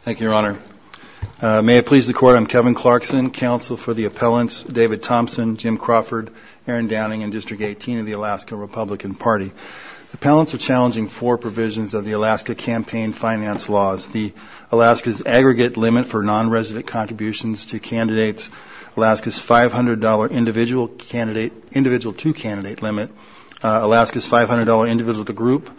Thank you, Your Honor. May it please the Court, I'm Kevin Clarkson, Counsel for the Appellants, David Thompson, Jim Crawford, Erin Downing, and District 18 of the Alaska Republican Party. The Appellants are challenging four provisions of the Alaska campaign finance laws. The Alaska's aggregate limit for non-resident contributions to candidates, Alaska's $500 individual to candidate limit, Alaska's $500 individual to group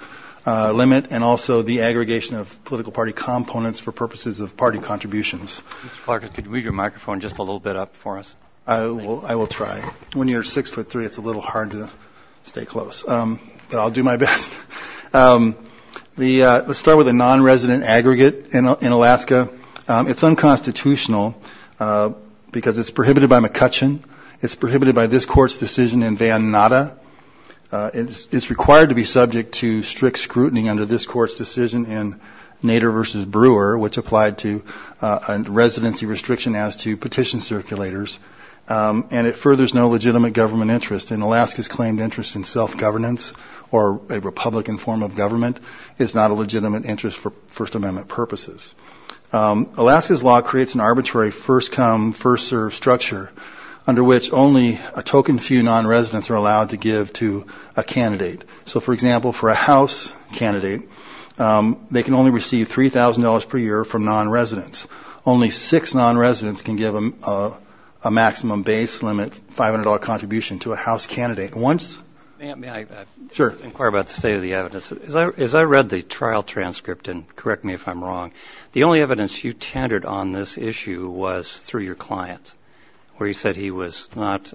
limit, and also the aggregation of political party components for purposes of party contributions. Mr. Clarkson, could you move your microphone just a little bit up for us? I will try. When you're 6'3", it's a little hard to stay close, but I'll do my best. Let's start with the non-resident aggregate in Alaska. It's unconstitutional because it's prohibited by McCutcheon. It's prohibited by this Court's decision in Van Natta. It's required to be subject to strict scrutiny under this Court's decision in Nader v. Brewer, which applied to a residency restriction as to petition circulators, and it furthers no legitimate government interest. And Alaska's claimed interest in self-governance or a Republican form of government is not a legitimate interest for First Amendment purposes. Alaska's law creates an arbitrary first-come, first-served structure under which only a token few non-residents are allowed to give to a candidate. So, for example, for a House candidate, they can only receive $3,000 per year from non-residents. Only six non-residents can give a maximum base limit $500 contribution to a House candidate. May I inquire about the state of the evidence? As I read the trial transcript, and correct me if I'm wrong, the only evidence you tendered on this issue was through your client, where he said he was not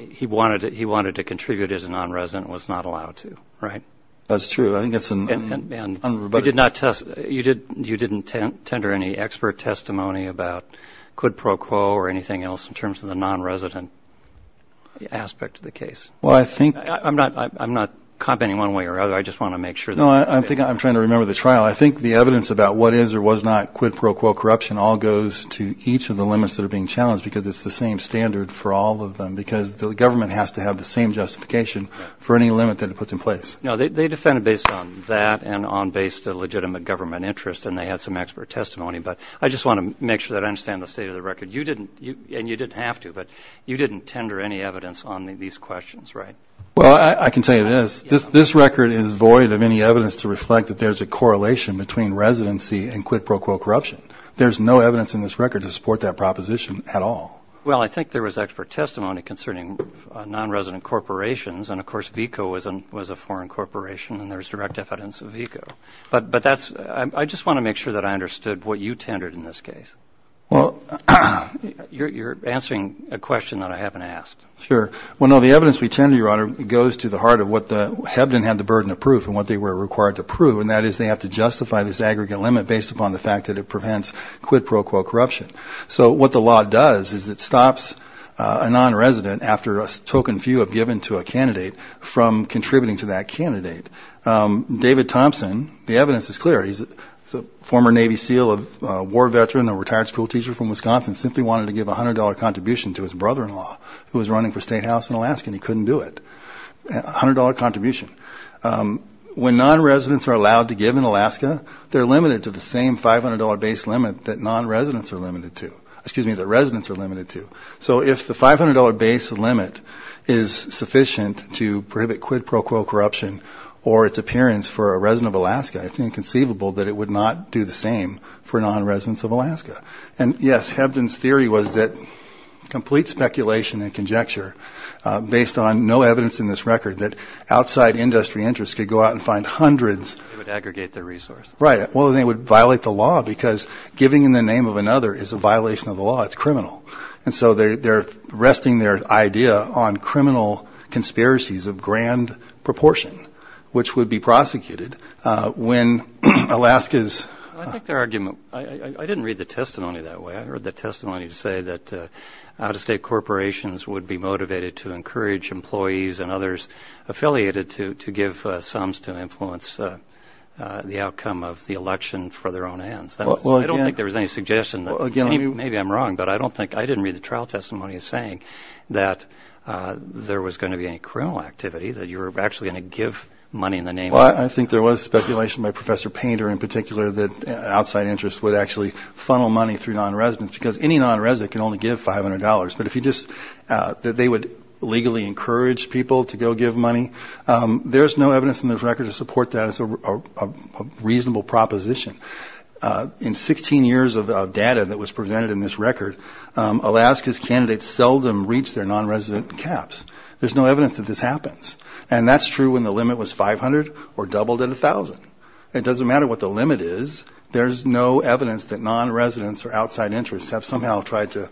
– he wanted to contribute as a non-resident and was not allowed to, right? That's true. You did not – you didn't tender any expert testimony about quid pro quo or anything else in terms of the non-resident aspect of the case? Well, I think – I'm not commenting one way or another. I just want to make sure that – No, I'm trying to remember the trial. I think the evidence about what is or was not quid pro quo corruption all goes to each of the limits that are being challenged because it's the same standard for all of them, because the government has to have the same justification for any limit that it puts in place. No, they defended based on that and based on legitimate government interest, and they had some expert testimony. But I just want to make sure that I understand the state of the record. You didn't – and you didn't have to, but you didn't tender any evidence on these questions, right? Well, I can tell you this. This record is void of any evidence to reflect that there's a correlation between residency and quid pro quo corruption. There's no evidence in this record to support that proposition at all. Well, I think there was expert testimony concerning non-resident corporations, and, of course, VECO was a foreign corporation, and there's direct evidence of VECO. But that's – I just want to make sure that I understood what you tendered in this case. Well – You're answering a question that I haven't asked. Sure. Well, no, the evidence we tender, Your Honor, goes to the heart of what the – Hebden had the burden of proof and what they were required to prove, and that is they have to justify this aggregate limit based upon the fact that it prevents quid pro quo corruption. So what the law does is it stops a non-resident, after a token few have given to a candidate, from contributing to that candidate. David Thompson, the evidence is clear. He's a former Navy SEAL, a war veteran, a retired school teacher from Wisconsin, simply wanted to give a $100 contribution to his brother-in-law who was running for state house in Alaska, and he couldn't do it. A $100 contribution. When non-residents are allowed to give in Alaska, they're limited to the same $500 base limit that non-residents are limited to – excuse me, that residents are limited to. So if the $500 base limit is sufficient to prohibit quid pro quo corruption or its appearance for a resident of Alaska, it's inconceivable that it would not do the same for non-residents of Alaska. And, yes, Hebden's theory was that complete speculation and conjecture, based on no evidence in this record, that outside industry interests could go out and find hundreds – They would aggregate their resources. Right. Well, they would violate the law because giving in the name of another is a violation of the law. It's criminal. And so they're resting their idea on criminal conspiracies of grand proportion, which would be prosecuted when Alaska's – I think their argument – I didn't read the testimony that way. I read the testimony to say that out-of-state corporations would be motivated to encourage employees and others affiliated to give sums to influence the outcome of the election for their own ends. I don't think there was any suggestion. Maybe I'm wrong, but I don't think – I didn't read the trial testimony as saying that there was going to be any criminal activity, that you were actually going to give money in the name of – Well, I think there was speculation by Professor Painter in particular that outside interests would actually funnel money through non-residents because any non-resident can only give $500. But if you just – that they would legally encourage people to go give money, there's no evidence in this record to support that as a reasonable proposition. In 16 years of data that was presented in this record, Alaska's candidates seldom reached their non-resident caps. There's no evidence that this happens. And that's true when the limit was 500 or doubled at 1,000. It doesn't matter what the limit is. There's no evidence that non-residents or outside interests have somehow tried to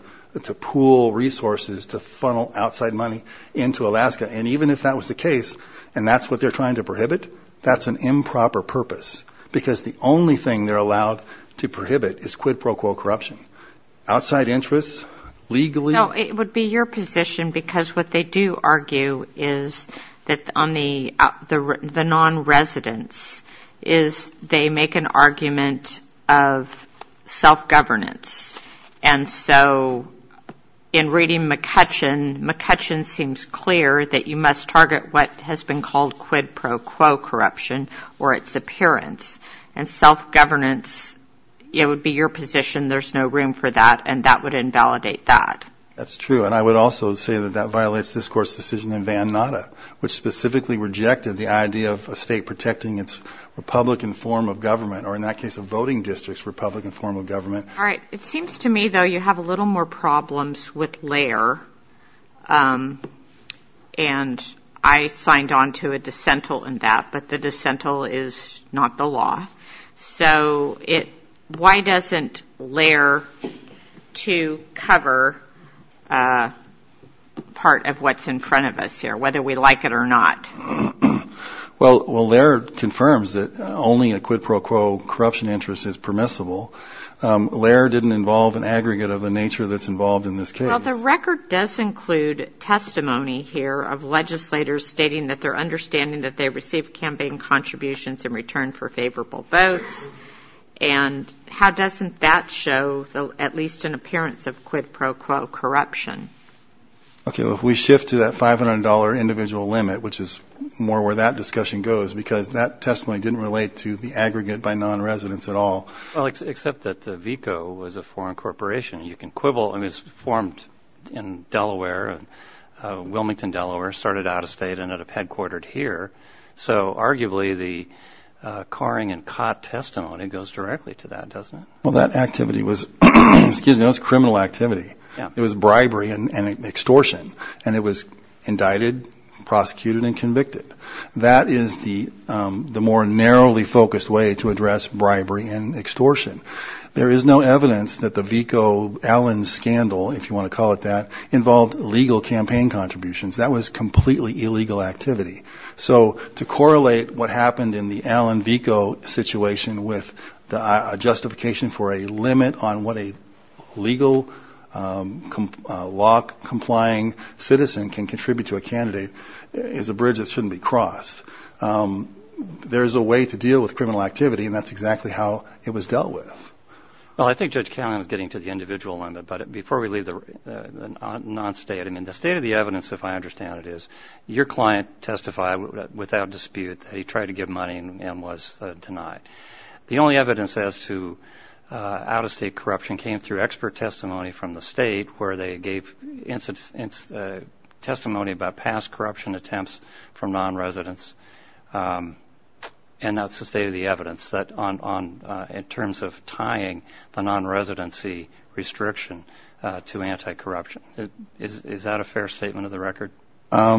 pool resources to funnel outside money into Alaska. And even if that was the case and that's what they're trying to prohibit, that's an improper purpose because the only thing they're allowed to prohibit is quid pro quo corruption. Outside interests legally – No, it would be your position because what they do argue is that on the non-residents is they make an argument of self-governance. And so in reading McCutcheon, McCutcheon seems clear that you must target what has been called quid pro quo corruption or its appearance. And self-governance, it would be your position. There's no room for that. And that would invalidate that. That's true. And I would also say that that violates this Court's decision in Van Natta, which specifically rejected the idea of a state protecting its republican form of government or, in that case, a voting district's republican form of government. All right. It seems to me, though, you have a little more problems with LAIR. And I signed on to a dissent in that, but the dissent is not the law. So why doesn't LAIR to cover part of what's in front of us here, whether we like it or not? Well, LAIR confirms that only a quid pro quo corruption interest is permissible. LAIR didn't involve an aggregate of the nature that's involved in this case. Well, the record does include testimony here of legislators stating that they're understanding that they received campaign contributions in return for favorable votes. And how doesn't that show at least an appearance of quid pro quo corruption? Okay. Well, if we shift to that $500 individual limit, which is more where that discussion goes, because that testimony didn't relate to the aggregate by non-residents at all. Well, except that the VICO was a foreign corporation. You can quibble. I mean, it was formed in Delaware, Wilmington, Delaware, started out of state, ended up headquartered here. So arguably the coring and cot testimony goes directly to that, doesn't it? Well, that activity was criminal activity. It was bribery and extortion. And it was indicted, prosecuted, and convicted. That is the more narrowly focused way to address bribery and extortion. There is no evidence that the VICO-Allen scandal, if you want to call it that, involved legal campaign contributions. That was completely illegal activity. So to correlate what happened in the Allen-VICO situation with a justification for a limit on what a legal law-complying citizen can contribute to a candidate is a bridge that shouldn't be crossed. There is a way to deal with criminal activity, and that's exactly how it was dealt with. Well, I think Judge Callahan is getting to the individual limit. But before we leave the non-state, I mean, the state of the evidence, if I understand it, is your client testified without dispute that he tried to give money and was denied. The only evidence as to out-of-state corruption came through expert testimony from the state, where they gave testimony about past corruption attempts from non-residents. And that's the state of the evidence in terms of tying the non-residency restriction to anti-corruption. Is that a fair statement of the record? I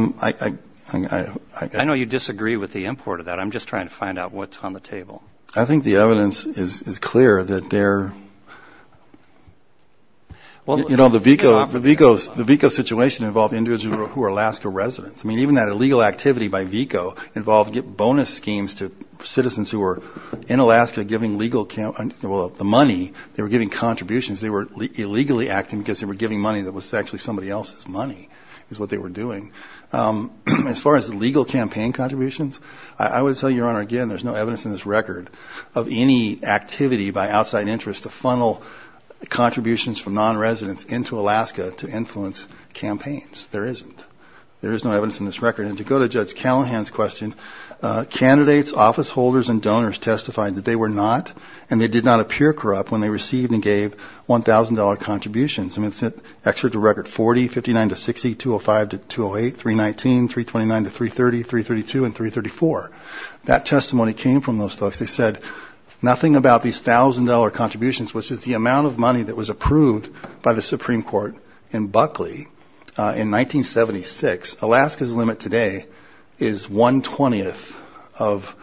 know you disagree with the import of that. I'm just trying to find out what's on the table. I think the evidence is clear that there – you know, the VICO situation involved individuals who are Alaska residents. I mean, even that illegal activity by VICO involved bonus schemes to citizens who were in Alaska giving legal – well, the money they were giving contributions, they were illegally acting because they were giving money that was actually somebody else's money is what they were doing. As far as legal campaign contributions, I would tell you, Your Honor, again, there's no evidence in this record of any activity by outside interests to funnel contributions from non-residents into Alaska to influence campaigns. There isn't. There is no evidence in this record. And to go to Judge Callahan's question, candidates, office holders, and donors testified that they were not and they did not appear corrupt when they received and gave $1,000 contributions. I mean, it's an excerpt of Record 40, 59 to 60, 205 to 208, 319, 329 to 330, 332, and 334. That testimony came from those folks. They said nothing about these $1,000 contributions, which is the amount of money that was approved by the Supreme Court in Buckley in 1976. Alaska's limit today is one-twentieth of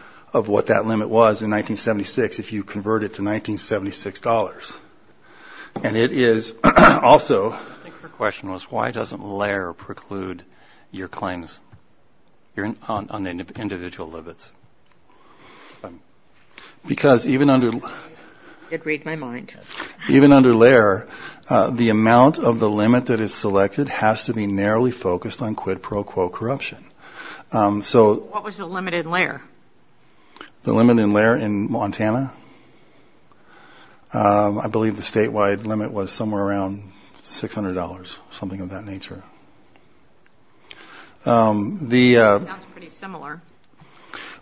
what that limit was in 1976 if you convert it to 1976 dollars. And it is also. I think her question was why doesn't LAIR preclude your claims on individual limits? Because even under. It read my mind. Even under LAIR, the amount of the limit that is selected has to be narrowly focused on quid pro quo corruption. What was the limit in LAIR? The limit in LAIR in Montana? I believe the statewide limit was somewhere around $600, something of that nature. The. Sounds pretty similar.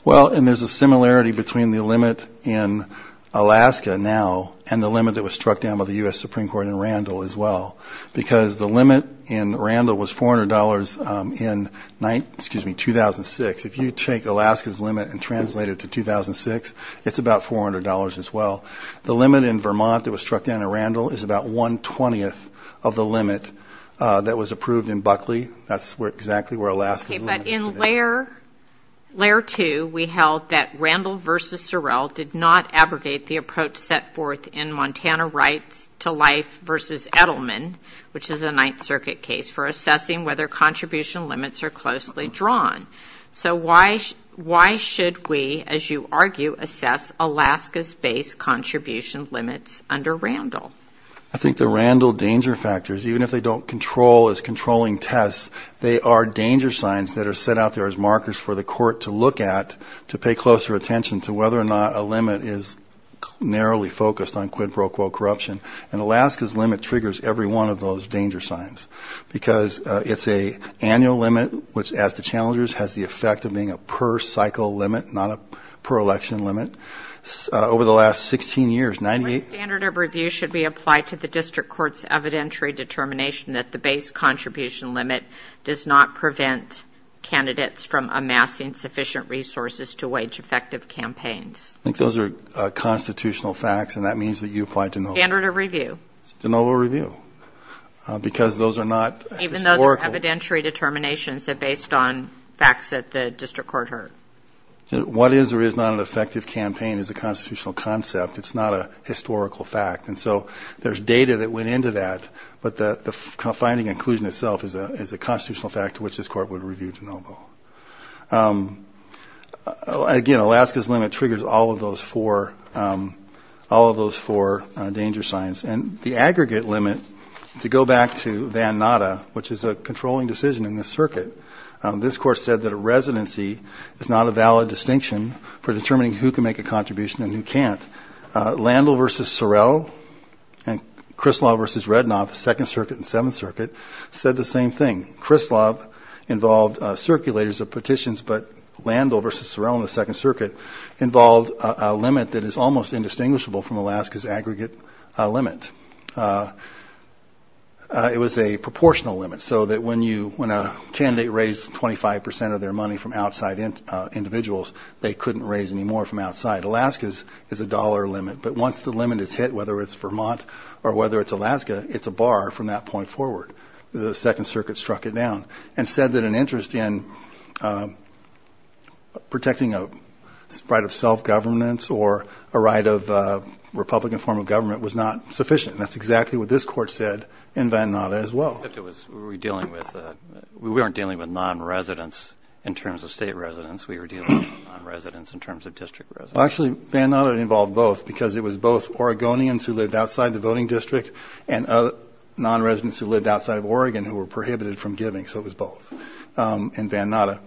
Well, and there's a similarity between the limit in Alaska now and the limit that was struck down by the U.S. Supreme Court in Randall as well, because the limit in Randall was $400 in 2006. If you take Alaska's limit and translate it to 2006, it's about $400 as well. The limit in Vermont that was struck down in Randall is about one-twentieth of the limit that was approved in Buckley. That's exactly where Alaska's limit is today. But in LAIR 2, we held that Randall versus Sorrell did not abrogate the approach set forth in Montana rights to life versus Edelman, which is a Ninth Circuit case, for assessing whether contribution limits are closely drawn. So why should we, as you argue, assess Alaska's base contribution limits under Randall? I think the Randall danger factors, even if they don't control as controlling tests, they are danger signs that are set out there as markers for the court to look at to pay closer attention to whether or not a limit is narrowly focused on quid pro quo corruption. And Alaska's limit triggers every one of those danger signs, because it's an annual limit, which, as the challengers, has the effect of being a per-cycle limit, not a per-election limit. Over the last 16 years, 98- What standard of review should be applied to the district court's evidentiary determination that the base contribution limit does not prevent candidates from amassing sufficient resources to wage effective campaigns? I think those are constitutional facts, and that means that you apply de novo. Standard of review. De novo review, because those are not historical- Even though they're evidentiary determinations that are based on facts that the district court heard. What is or is not an effective campaign is a constitutional concept. It's not a historical fact. And so there's data that went into that, but the finding and inclusion itself is a constitutional fact to which this court would review de novo. Again, Alaska's limit triggers all of those four danger signs. And the aggregate limit, to go back to Van Natta, which is a controlling decision in this circuit, this court said that a residency is not a valid distinction for determining who can make a contribution and who can't. Landel v. Sorrell and Krislav v. Redknaf, the Second Circuit and Seventh Circuit, said the same thing. Krislav involved circulators of petitions, but Landel v. Sorrell and the Second Circuit involved a limit that is almost indistinguishable from Alaska's aggregate limit. It was a proportional limit, so that when a candidate raised 25 percent of their money from outside individuals, they couldn't raise any more from outside. Alaska's is a dollar limit, but once the limit is hit, whether it's Vermont or whether it's Alaska, it's a bar from that point forward. The Second Circuit struck it down and said that an interest in protecting a right of self-governance or a right of Republican form of government was not sufficient. That's exactly what this court said in Van Natta as well. We weren't dealing with non-residents in terms of state residents. We were dealing with non-residents in terms of district residents. Actually, Van Natta involved both because it was both Oregonians who lived outside the voting district and non-residents who lived outside of Oregon who were prohibited from giving, so it was both in Van Natta.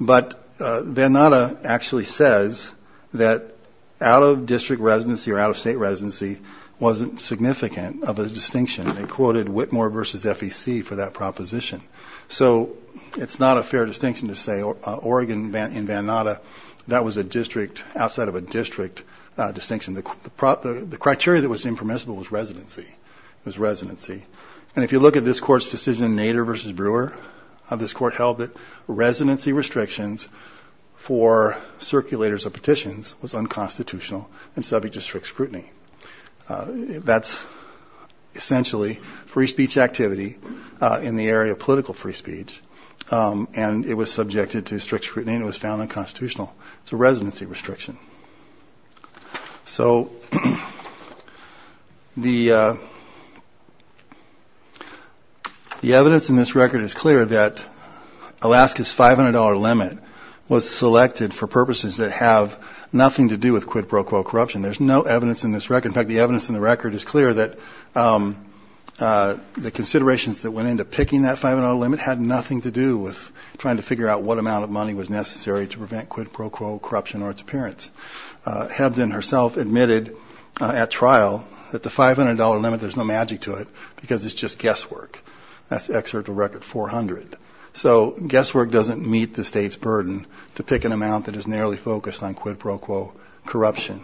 But Van Natta actually says that out-of-district residency or out-of-state residency wasn't significant of a distinction. They quoted Whitmore v. FEC for that proposition. So it's not a fair distinction to say Oregon in Van Natta, that was outside of a district distinction. The criteria that was impermissible was residency. And if you look at this court's decision, Nader v. Brewer, this court held that residency restrictions for circulators of petitions was unconstitutional and subject to strict scrutiny. That's essentially free speech activity in the area of political free speech, and it was subjected to strict scrutiny and it was found unconstitutional. It's a residency restriction. So the evidence in this record is clear that Alaska's $500 limit was selected for purposes that have nothing to do with quid pro quo corruption. There's no evidence in this record. In fact, the evidence in the record is clear that the considerations that went into picking that $500 limit had nothing to do with trying to figure out what amount of money was necessary to prevent quid pro quo corruption or its appearance. Hebden herself admitted at trial that the $500 limit, there's no magic to it because it's just guesswork. That's excerpt of Record 400. So guesswork doesn't meet the state's burden to pick an amount that is narrowly focused on quid pro quo corruption.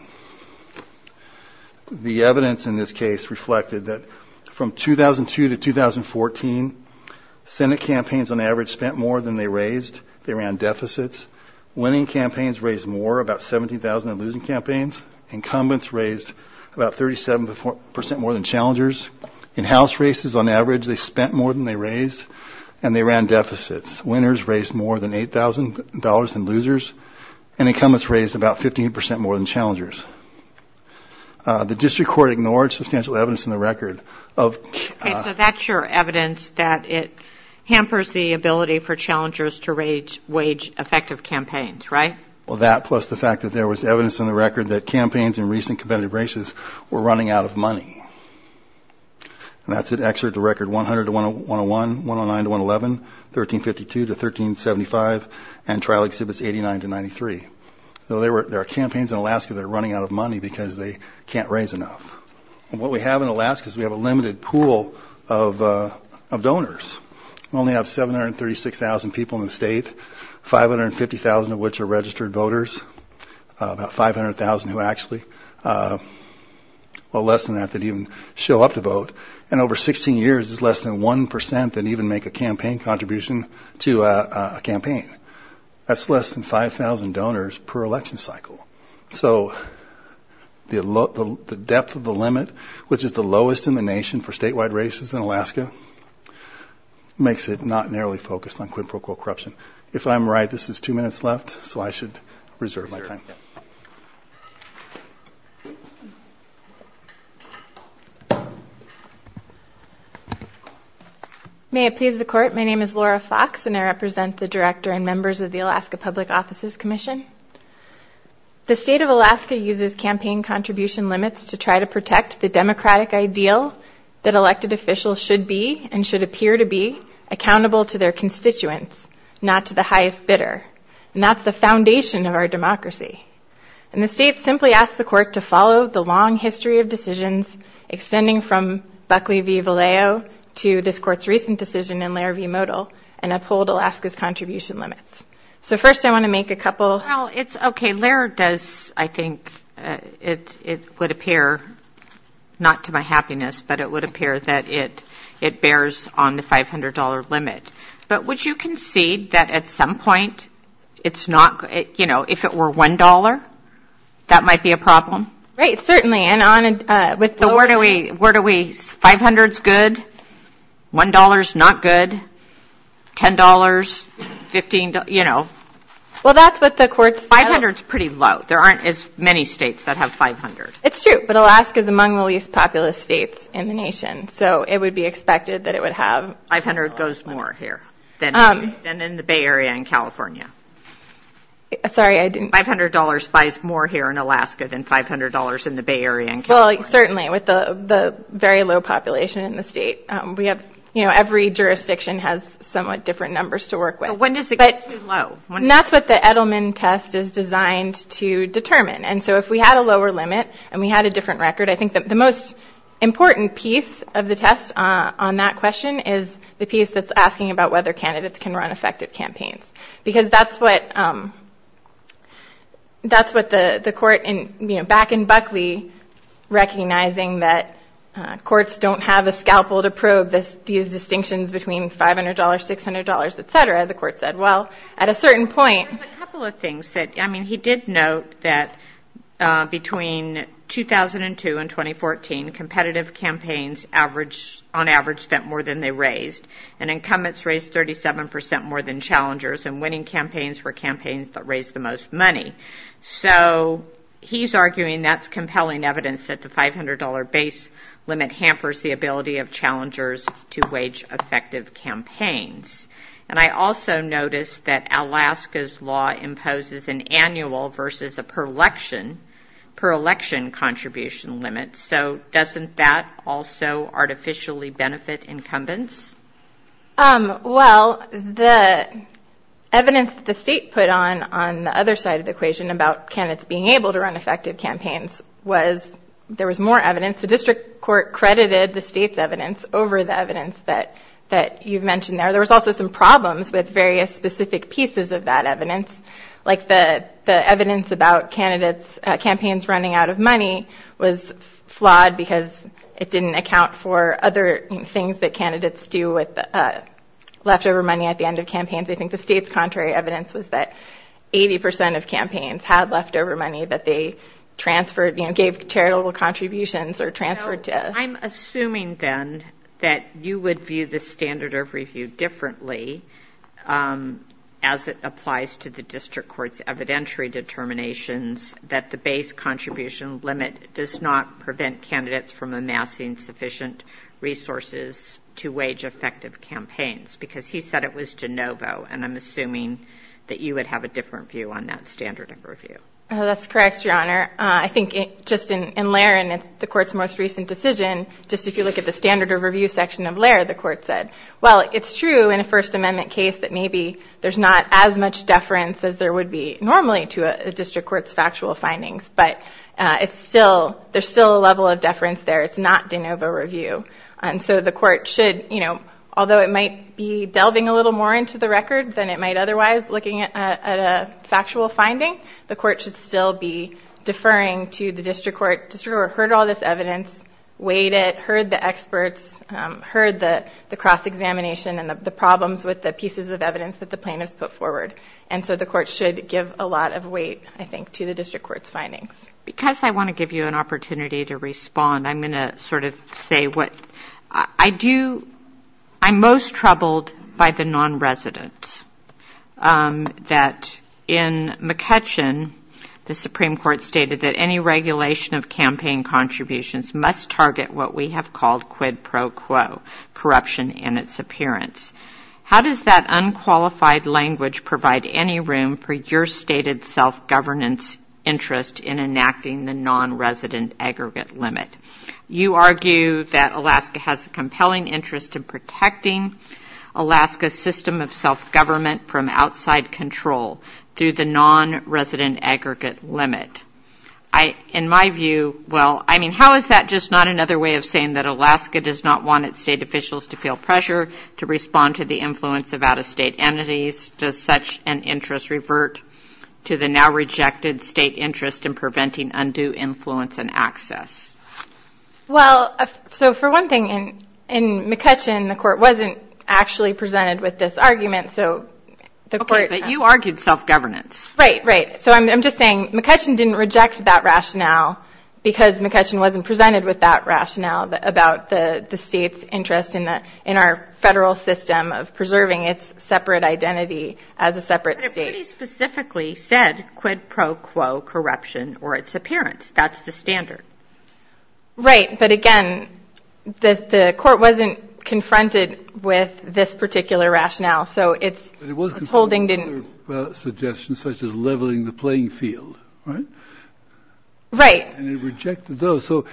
The evidence in this case reflected that from 2002 to 2014, Senate campaigns on average spent more than they raised. They ran deficits. Winning campaigns raised more, about 17,000 in losing campaigns. Incumbents raised about 37% more than challengers. In house races, on average, they spent more than they raised and they ran deficits. Winners raised more than $8,000 than losers and incumbents raised about 15% more than challengers. The district court ignored substantial evidence in the record of... Okay, so that's your evidence that it hampers the ability for challengers to wage effective campaigns, right? Well, that plus the fact that there was evidence in the record that campaigns in recent competitive races were running out of money. And that's an excerpt of Record 100 to 101, 109 to 111, 1352 to 1375, and trial exhibits 89 to 93. So there are campaigns in Alaska that are running out of money because they can't raise enough. And what we have in Alaska is we have a limited pool of donors. We only have 736,000 people in the state, 550,000 of which are registered voters, about 500,000 who actually... show up to vote, and over 16 years, it's less than 1% that even make a campaign contribution to a campaign. That's less than 5,000 donors per election cycle. So the depth of the limit, which is the lowest in the nation for statewide races in Alaska, makes it not narrowly focused on quid pro quo corruption. If I'm right, this is two minutes left, so I should reserve my time. May I please the court? My name is Laura Fox, and I represent the director and members of the Alaska Public Offices Commission. The state of Alaska uses campaign contribution limits to try to protect the democratic ideal that elected officials should be and should appear to be accountable to their constituents, not to the highest bidder. And that's the foundation of our democracy. And the state simply asks the court to follow the long history of decisions extending from Buckley v. Vallejo to this court's recent decision in Lair v. Modell and uphold Alaska's contribution limits. So first I want to make a couple... Well, it's okay. Lair does, I think, it would appear, not to my happiness, but it would appear that it bears on the $500 limit. But would you concede that at some point it's not... You know, if it were $1, that might be a problem? Right, certainly. Where do we... $500's good, $1's not good, $10, $15, you know. Well, that's what the court said. $500's pretty low. There aren't as many states that have $500. It's true, but Alaska's among the least populous states in the nation, so it would be expected that it would have... $500 goes more here than in the Bay Area and California. Sorry, I didn't... $500 buys more here in Alaska than $500 in the Bay Area and California. Well, certainly, with the very low population in the state, we have, you know, every jurisdiction has somewhat different numbers to work with. But when does it get too low? That's what the Edelman test is designed to determine. And so if we had a lower limit and we had a different record, I think the most important piece of the test on that question is the piece that's asking about whether candidates can run effective campaigns. Because that's what the court, you know, back in Buckley, recognizing that courts don't have a scalpel to probe these distinctions between $500, $600, et cetera, the court said, well, at a certain point... There's a couple of things that, I mean, he did note that between 2002 and 2014, competitive campaigns on average spent more than they raised, and incumbents raised 37% more than challengers, and winning campaigns were campaigns that raised the most money. So he's arguing that's compelling evidence that the $500 base limit hampers the ability of challengers to wage effective campaigns. And I also noticed that Alaska's law imposes an annual versus a per-election contribution limit. So doesn't that also artificially benefit incumbents? Well, the evidence that the state put on on the other side of the equation about candidates being able to run effective campaigns was there was more evidence. The district court credited the state's evidence over the evidence that you've mentioned there. There was also some problems with various specific pieces of that evidence, like the evidence about campaigns running out of money was flawed because it didn't account for other things that candidates do with leftover money at the end of campaigns. I think the state's contrary evidence was that 80% of campaigns had leftover money that they transferred, you know, gave charitable contributions or transferred to... I'm assuming then that you would view the standard of review differently as it applies to the district court's evidentiary determinations that the base contribution limit does not prevent candidates from amassing sufficient resources to wage effective campaigns because he said it was de novo, and I'm assuming that you would have a different view on that standard of review. That's correct, Your Honor. I think just in Laird and the court's most recent decision, just if you look at the standard of review section of Laird, the court said, well, it's true in a First Amendment case that maybe there's not as much deference as there would be normally to a district court's factual findings, but there's still a level of deference there. It's not de novo review. And so the court should, you know, although it might be delving a little more into the record than it might otherwise looking at a factual finding, the court should still be deferring to the district court. The district court heard all this evidence, weighed it, heard the experts, heard the cross-examination and the problems with the pieces of evidence that the plaintiffs put forward, and so the court should give a lot of weight, I think, to the district court's findings. Because I want to give you an opportunity to respond, I'm going to sort of say what... I do, I'm most troubled by the non-resident. That in McCutcheon, the Supreme Court stated that any regulation of campaign contributions must target what we have called quid pro quo, corruption in its appearance. How does that unqualified language provide any room for your stated self-governance interest in enacting the non-resident aggregate limit? You argue that Alaska has a compelling interest in protecting Alaska's system of self-government from outside control through the non-resident aggregate limit. In my view, well, I mean, how is that just not another way of saying that Alaska does not want its state officials to feel pressure to respond to the influence of out-of-state entities? Does such an interest revert to the now rejected state interest in preventing undue influence and access? Well, so for one thing, in McCutcheon, the court wasn't actually presented with this argument, so... Okay, but you argued self-governance. Right, right. So I'm just saying McCutcheon didn't reject that rationale because McCutcheon wasn't presented with that rationale about the state's interest in our federal system of preserving its separate identity as a separate state. But it pretty specifically said quid pro quo corruption or its appearance. That's the standard. Right, but again, the court wasn't confronted with this particular rationale, so its holding didn't... But it was confronted with other suggestions, such as leveling the playing field, right? Right. And it rejected those. So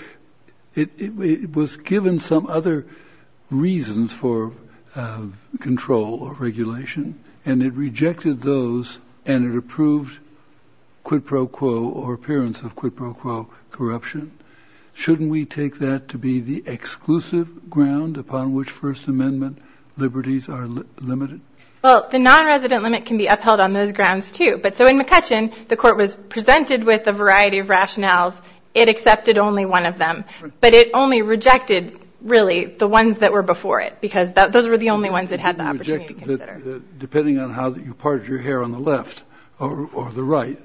it was given some other reasons for control or regulation, and it rejected those, and it approved quid pro quo or appearance of quid pro quo corruption. Shouldn't we take that to be the exclusive ground upon which First Amendment liberties are limited? Well, the non-resident limit can be upheld on those grounds, too. But so in McCutcheon, the court was presented with a variety of rationales. It accepted only one of them, but it only rejected, really, the ones that were before it because those were the only ones it had the opportunity to consider. Depending on how you parted your hair on the left or the right.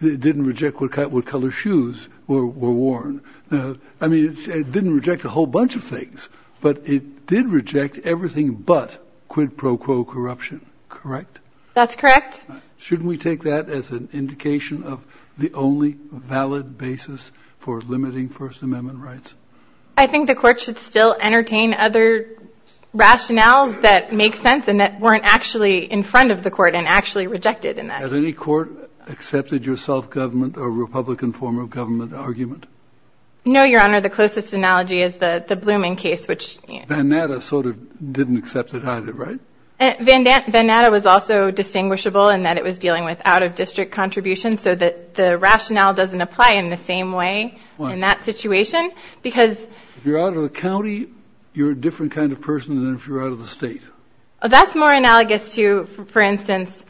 It didn't reject what color shoes were worn. I mean, it didn't reject a whole bunch of things, but it did reject everything but quid pro quo corruption. Correct? That's correct. Shouldn't we take that as an indication of the only valid basis for limiting First Amendment rights? I think the court should still entertain other rationales that make sense and that weren't actually in front of the court and actually rejected in that. Has any court accepted your self-government or Republican form of government argument? No, Your Honor. The closest analogy is the Blooming case, which... Van Natta sort of didn't accept it either, right? Van Natta was also distinguishable in that it was dealing with out-of-district contributions so that the rationale doesn't apply in the same way in that situation because... If you're out of the county, you're a different kind of person than if you're out of the state. That's more analogous to, for instance,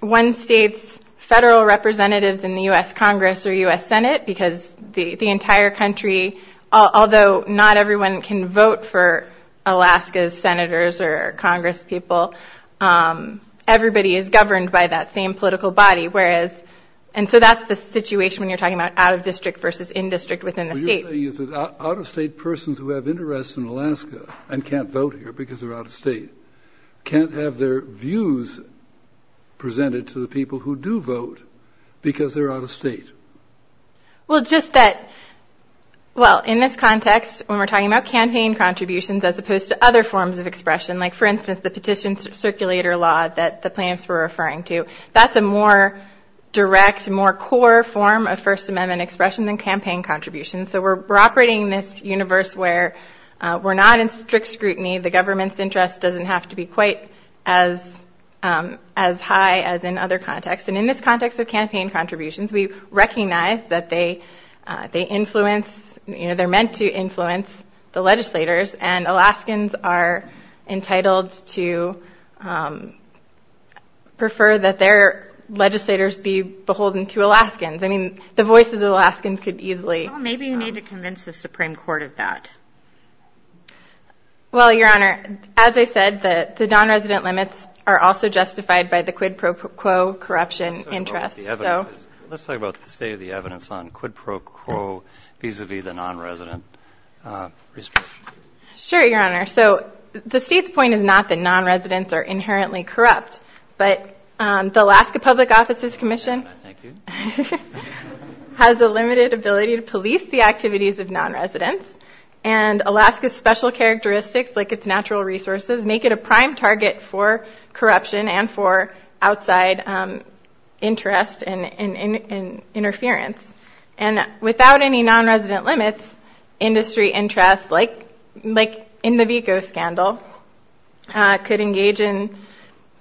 one state's federal representatives in the U.S. Congress or U.S. Senate because the entire country, although not everyone can vote for Alaska's senators or congresspeople, everybody is governed by that same political body, whereas... And so that's the situation when you're talking about out-of-district versus in-district within the state. What you're saying is that out-of-state persons who have interests in Alaska and can't vote here because they're out-of-state can't have their views presented to the people who do vote because they're out-of-state. Well, just that... Well, in this context, when we're talking about campaign contributions as opposed to other forms of expression, like, for instance, the petition circulator law that the plaintiffs were referring to, that's a more direct, more core form of First Amendment expression than campaign contributions. So we're operating in this universe where we're not in strict scrutiny. The government's interest doesn't have to be quite as high as in other contexts. And in this context of campaign contributions, we recognize that they influence... And Alaskans are entitled to prefer that their legislators be beholden to Alaskans. I mean, the voices of Alaskans could easily... Well, maybe you need to convince the Supreme Court of that. Well, Your Honor, as I said, the non-resident limits are also justified by the quid pro quo corruption interest. Let's talk about the evidence. Let's talk about the state of the evidence on quid pro quo vis-a-vis the non-resident restriction. Sure, Your Honor. So the state's point is not that non-residents are inherently corrupt, but the Alaska Public Offices Commission has a limited ability to police the activities of non-residents. And Alaska's special characteristics, like its natural resources, make it a prime target for corruption and for outside interest and interference. And without any non-resident limits, industry interest, like in the VECO scandal, could engage in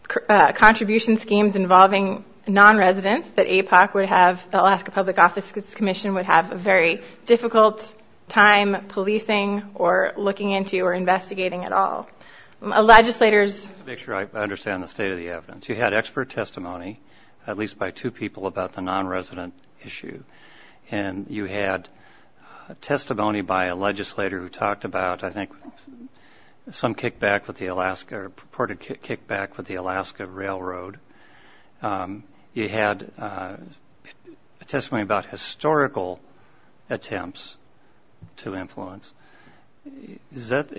contribution schemes involving non-residents that APOC would have... The Alaska Public Offices Commission would have a very difficult time policing or looking into or investigating at all. Legislators... Just to make sure I understand the state of the evidence. You had expert testimony, at least by two people, about the non-resident issue. And you had testimony by a legislator who talked about, I think, some kickback with the Alaska or purported kickback with the Alaska Railroad. You had testimony about historical attempts to influence.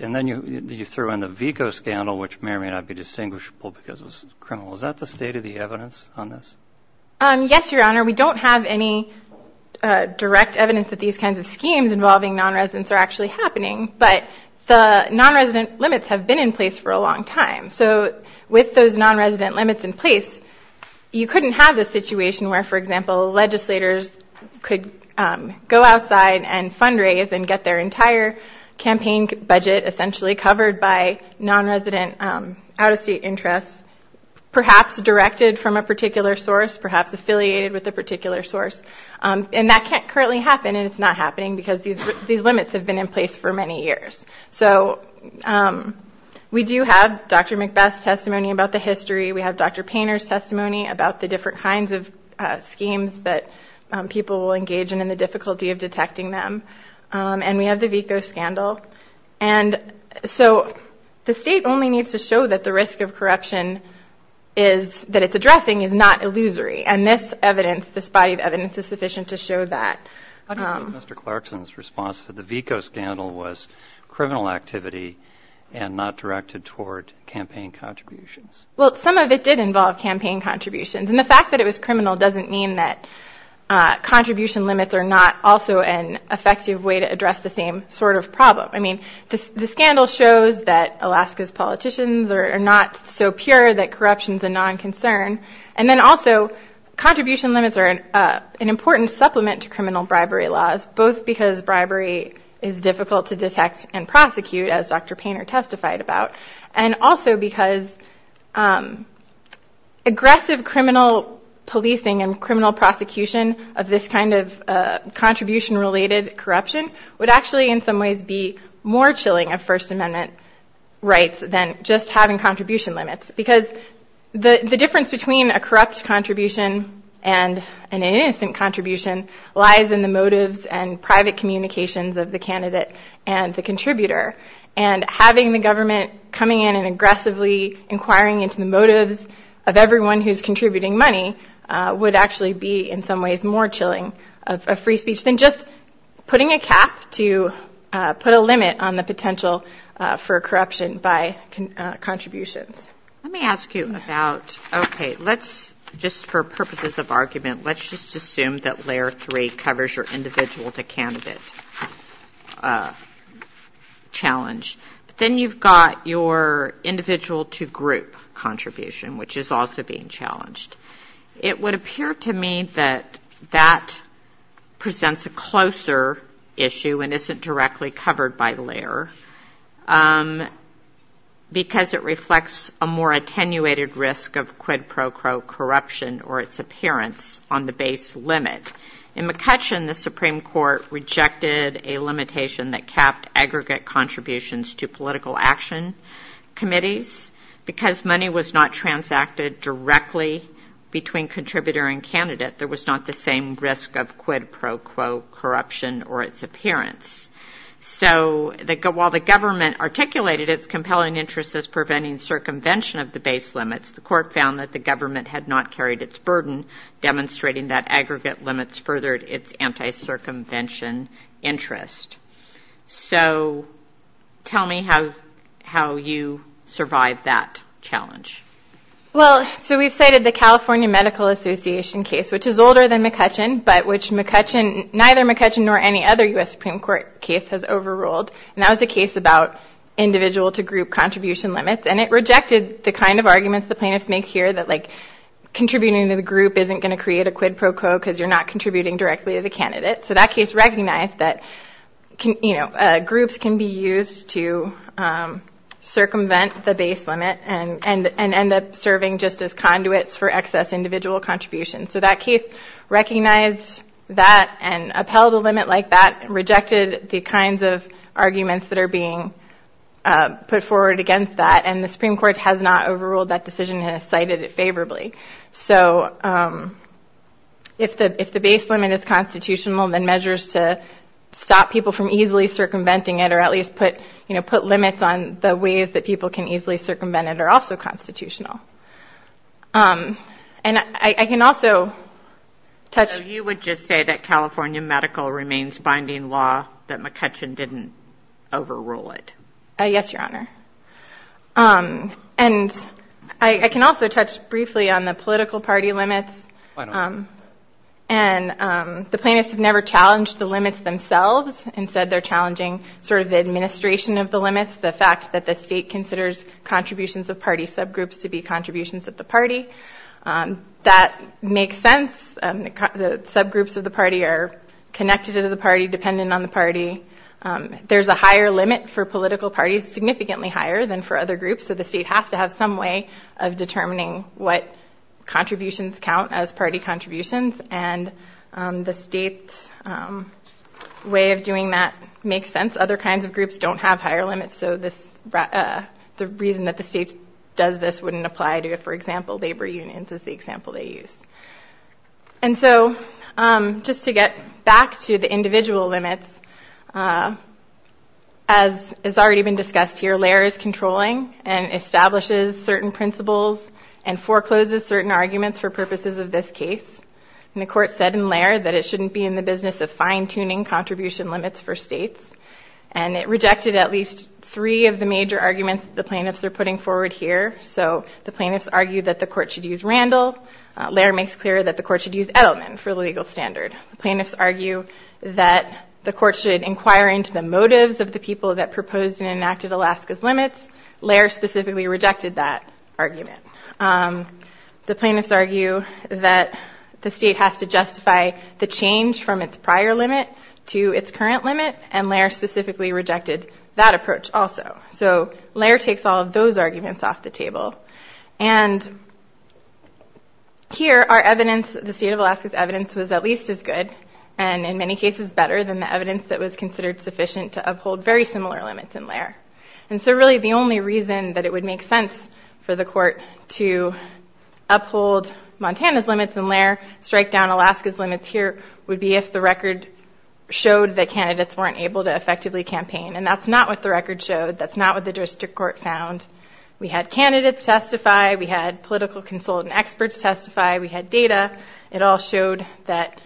And then you threw in the VECO scandal, which may or may not be distinguishable because it was criminal. Is that the state of the evidence on this? Yes, Your Honor. We don't have any direct evidence that these kinds of schemes involving non-residents are actually happening. But the non-resident limits have been in place for a long time. So with those non-resident limits in place, you couldn't have the situation where, for example, legislators could go outside and fundraise and get their entire campaign budget essentially covered by non-resident out-of-state interests, perhaps directed from a particular source, perhaps affiliated with a particular source. And that can't currently happen, and it's not happening, because these limits have been in place for many years. So we do have Dr. McBeth's testimony about the history. We have Dr. Painter's testimony about the different kinds of schemes that people will engage in and the difficulty of detecting them. And we have the VECO scandal. And so the state only needs to show that the risk of corruption that it's addressing is not illusory. And this evidence, this body of evidence, is sufficient to show that. I don't think Mr. Clarkson's response to the VECO scandal was criminal activity and not directed toward campaign contributions. Well, some of it did involve campaign contributions. And the fact that it was criminal doesn't mean that contribution limits are not also an effective way to address the same sort of problem. I mean, the scandal shows that Alaska's politicians are not so pure that corruption is a non-concern. And then also, contribution limits are an important supplement to criminal bribery laws, both because bribery is difficult to detect and prosecute, as Dr. Painter testified about, and also because aggressive criminal policing and criminal prosecution of this kind of contribution-related corruption would actually, in some ways, be more chilling of First Amendment rights than just having contribution limits. Because the difference between a corrupt contribution and an innocent contribution lies in the motives and private communications of the candidate and the contributor. And having the government coming in and aggressively inquiring into the motives of everyone who's contributing money would actually be, in some ways, more chilling of free speech than just putting a cap to put a limit on the potential for corruption by contributions. Let me ask you about, okay, let's just, for purposes of argument, let's just assume that Layer 3 covers your individual-to-candidate challenge. But then you've got your individual-to-group contribution, which is also being challenged. It would appear to me that that presents a closer issue and isn't directly covered by Layer, because it reflects a more attenuated risk of quid pro quo corruption or its appearance on the base limit. In McCutcheon, the Supreme Court rejected a limitation that capped aggregate contributions to political action committees. Because money was not transacted directly between contributor and candidate, there was not the same risk of quid pro quo corruption or its appearance. So while the government articulated its compelling interest as preventing circumvention of the base limits, the court found that the government had not carried its burden, demonstrating that aggregate limits furthered its anti-circumvention interest. So tell me how you survived that challenge. Well, so we've cited the California Medical Association case, which is older than McCutcheon, but which neither McCutcheon nor any other U.S. Supreme Court case has overruled. And that was a case about individual-to-group contribution limits. And it rejected the kind of arguments the plaintiffs make here that, like, contributing to the group isn't going to create a quid pro quo because you're not contributing directly to the candidate. So that case recognized that groups can be used to circumvent the base limit and end up serving just as conduits for excess individual contributions. So that case recognized that and upheld a limit like that and rejected the kinds of arguments that are being put forward against that. And the Supreme Court has not overruled that decision and has cited it favorably. So if the base limit is constitutional, then measures to stop people from easily circumventing it or at least put limits on the ways that people can easily circumvent it are also constitutional. And I can also touch— So you would just say that California medical remains binding law, that McCutcheon didn't overrule it? Yes, Your Honor. And I can also touch briefly on the political party limits. And the plaintiffs have never challenged the limits themselves and said they're challenging sort of the administration of the limits, the fact that the state considers contributions of party subgroups to be contributions of the party. That makes sense. The subgroups of the party are connected to the party, dependent on the party. There's a higher limit for political parties, significantly higher than for other groups. So the state has to have some way of determining what contributions count as party contributions. And the state's way of doing that makes sense. Other kinds of groups don't have higher limits, so the reason that the state does this wouldn't apply to, for example, labor unions, is the example they use. And so just to get back to the individual limits, as has already been discussed here, LAIR is controlling and establishes certain principles and forecloses certain arguments for purposes of this case. And the court said in LAIR that it shouldn't be in the business of fine-tuning contribution limits for states. And it rejected at least three of the major arguments that the plaintiffs are putting forward here. So the plaintiffs argue that the court should use Randall. LAIR makes clear that the court should use Edelman for the legal standard. The plaintiffs argue that the court should inquire into the motives of the people that proposed and enacted Alaska's limits. LAIR specifically rejected that argument. The plaintiffs argue that the state has to justify the change from its prior limit to its current limit, and LAIR specifically rejected that approach also. So LAIR takes all of those arguments off the table. And here our evidence, the state of Alaska's evidence, was at least as good, and in many cases better, than the evidence that was considered sufficient to uphold very similar limits in LAIR. And so really the only reason that it would make sense for the court to uphold Montana's limits in LAIR, strike down Alaska's limits here, would be if the record showed that candidates weren't able to effectively campaign. And that's not what the record showed. That's not what the district court found. We had candidates testify. We had political consultant experts testify. We had data. It all showed that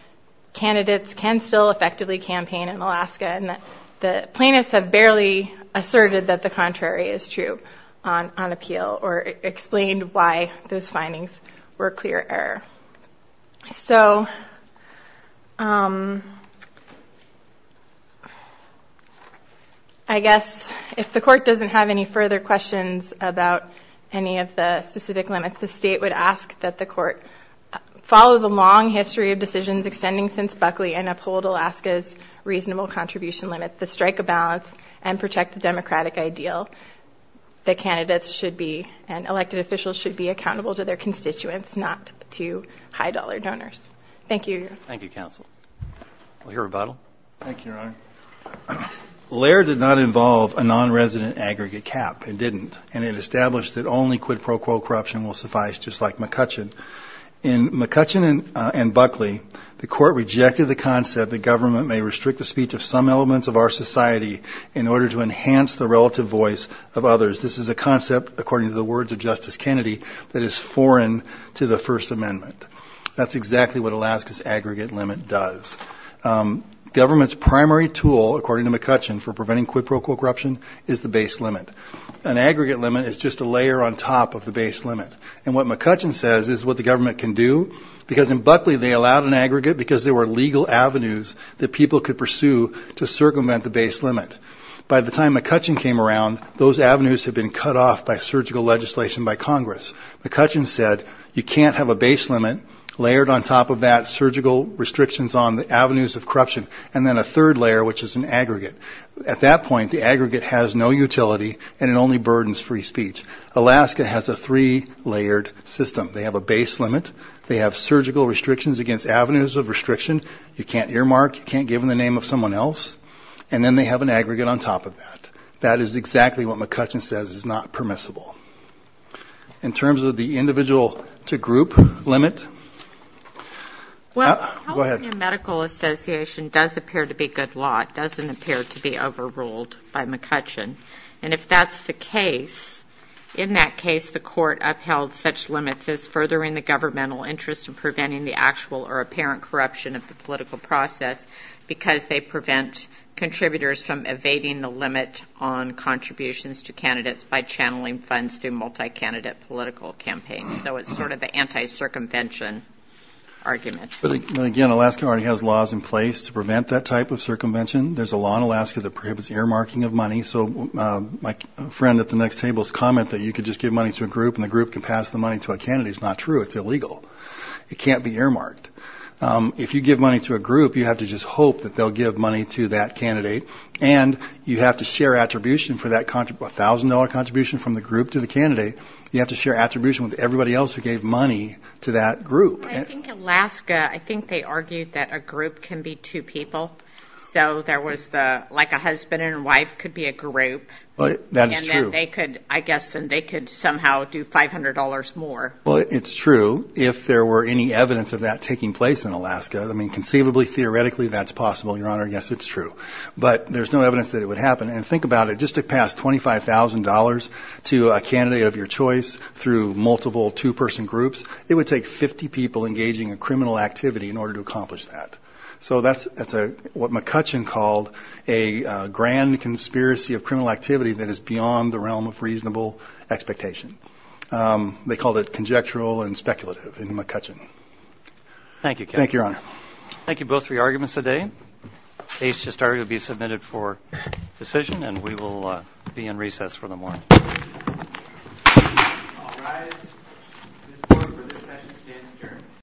candidates can still effectively campaign in Alaska. And the plaintiffs have barely asserted that the contrary is true on appeal, or explained why those findings were clear error. So I guess if the court doesn't have any further questions about any of the specific limits, the state would ask that the court follow the long history of decisions extending since Buckley and uphold Alaska's reasonable contribution limits to strike a balance and protect the democratic ideal that candidates should be and elected officials should be accountable to their constituents, not to high-dollar donors. Thank you. Thank you, counsel. We'll hear rebuttal. Thank you, Your Honor. LAIR did not involve a non-resident aggregate cap. It didn't. And it established that only quid pro quo corruption will suffice, just like McCutcheon. In McCutcheon and Buckley, the court rejected the concept that government may restrict the speech of some elements of our society in order to enhance the relative voice of others. This is a concept, according to the words of Justice Kennedy, that is foreign to the First Amendment. That's exactly what Alaska's aggregate limit does. Government's primary tool, according to McCutcheon, for preventing quid pro quo corruption is the base limit. An aggregate limit is just a layer on top of the base limit. And what McCutcheon says is what the government can do, because in Buckley they allowed an aggregate because there were legal avenues that people could pursue to circumvent the base limit. By the time McCutcheon came around, those avenues had been cut off by surgical legislation by Congress. McCutcheon said you can't have a base limit layered on top of that surgical restrictions on the avenues of corruption, and then a third layer, which is an aggregate. At that point, the aggregate has no utility and it only burdens free speech. Alaska has a three-layered system. They have a base limit. They have surgical restrictions against avenues of restriction. You can't earmark, you can't give them the name of someone else. And then they have an aggregate on top of that. That is exactly what McCutcheon says is not permissible. In terms of the individual-to-group limit... Go ahead. Well, California Medical Association does appear to be good law. It doesn't appear to be overruled by McCutcheon. And if that's the case, in that case the court upheld such limits as furthering the governmental interest and preventing the actual or apparent corruption of the political process because they prevent contributors from evading the limit on contributions to candidates by channeling funds through multi-candidate political campaigns. So it's sort of an anti-circumvention argument. Again, Alaska already has laws in place to prevent that type of circumvention. There's a law in Alaska that prohibits earmarking of money. So my friend at the next table's comment that you could just give money to a group and the group could pass the money to a candidate is not true. It's illegal. It can't be earmarked. If you give money to a group, you have to just hope that they'll give money to that candidate. And you have to share attribution for that $1,000 contribution from the group to the candidate. You have to share attribution with everybody else who gave money to that group. I think Alaska, I think they argued that a group can be two people. So there was the, like a husband and wife could be a group. That is true. They could, I guess, they could somehow do $500 more. Well, it's true. If there were any evidence of that taking place in Alaska, I mean, conceivably, theoretically, that's possible, Your Honor. Yes, it's true. But there's no evidence that it would happen. And think about it. Just to pass $25,000 to a candidate of your choice through multiple two-person groups, it would take 50 people engaging in criminal activity in order to accomplish that. So that's what McCutcheon called a grand conspiracy of criminal activity that is beyond the realm of reasonable expectation. They called it conjectural and speculative in McCutcheon. Thank you, Kevin. Thank you, Your Honor. Thank you both for your arguments today. The case has already been submitted for decision, and we will be in recess for the morning. I'll rise. This board, for this session, stands adjourned.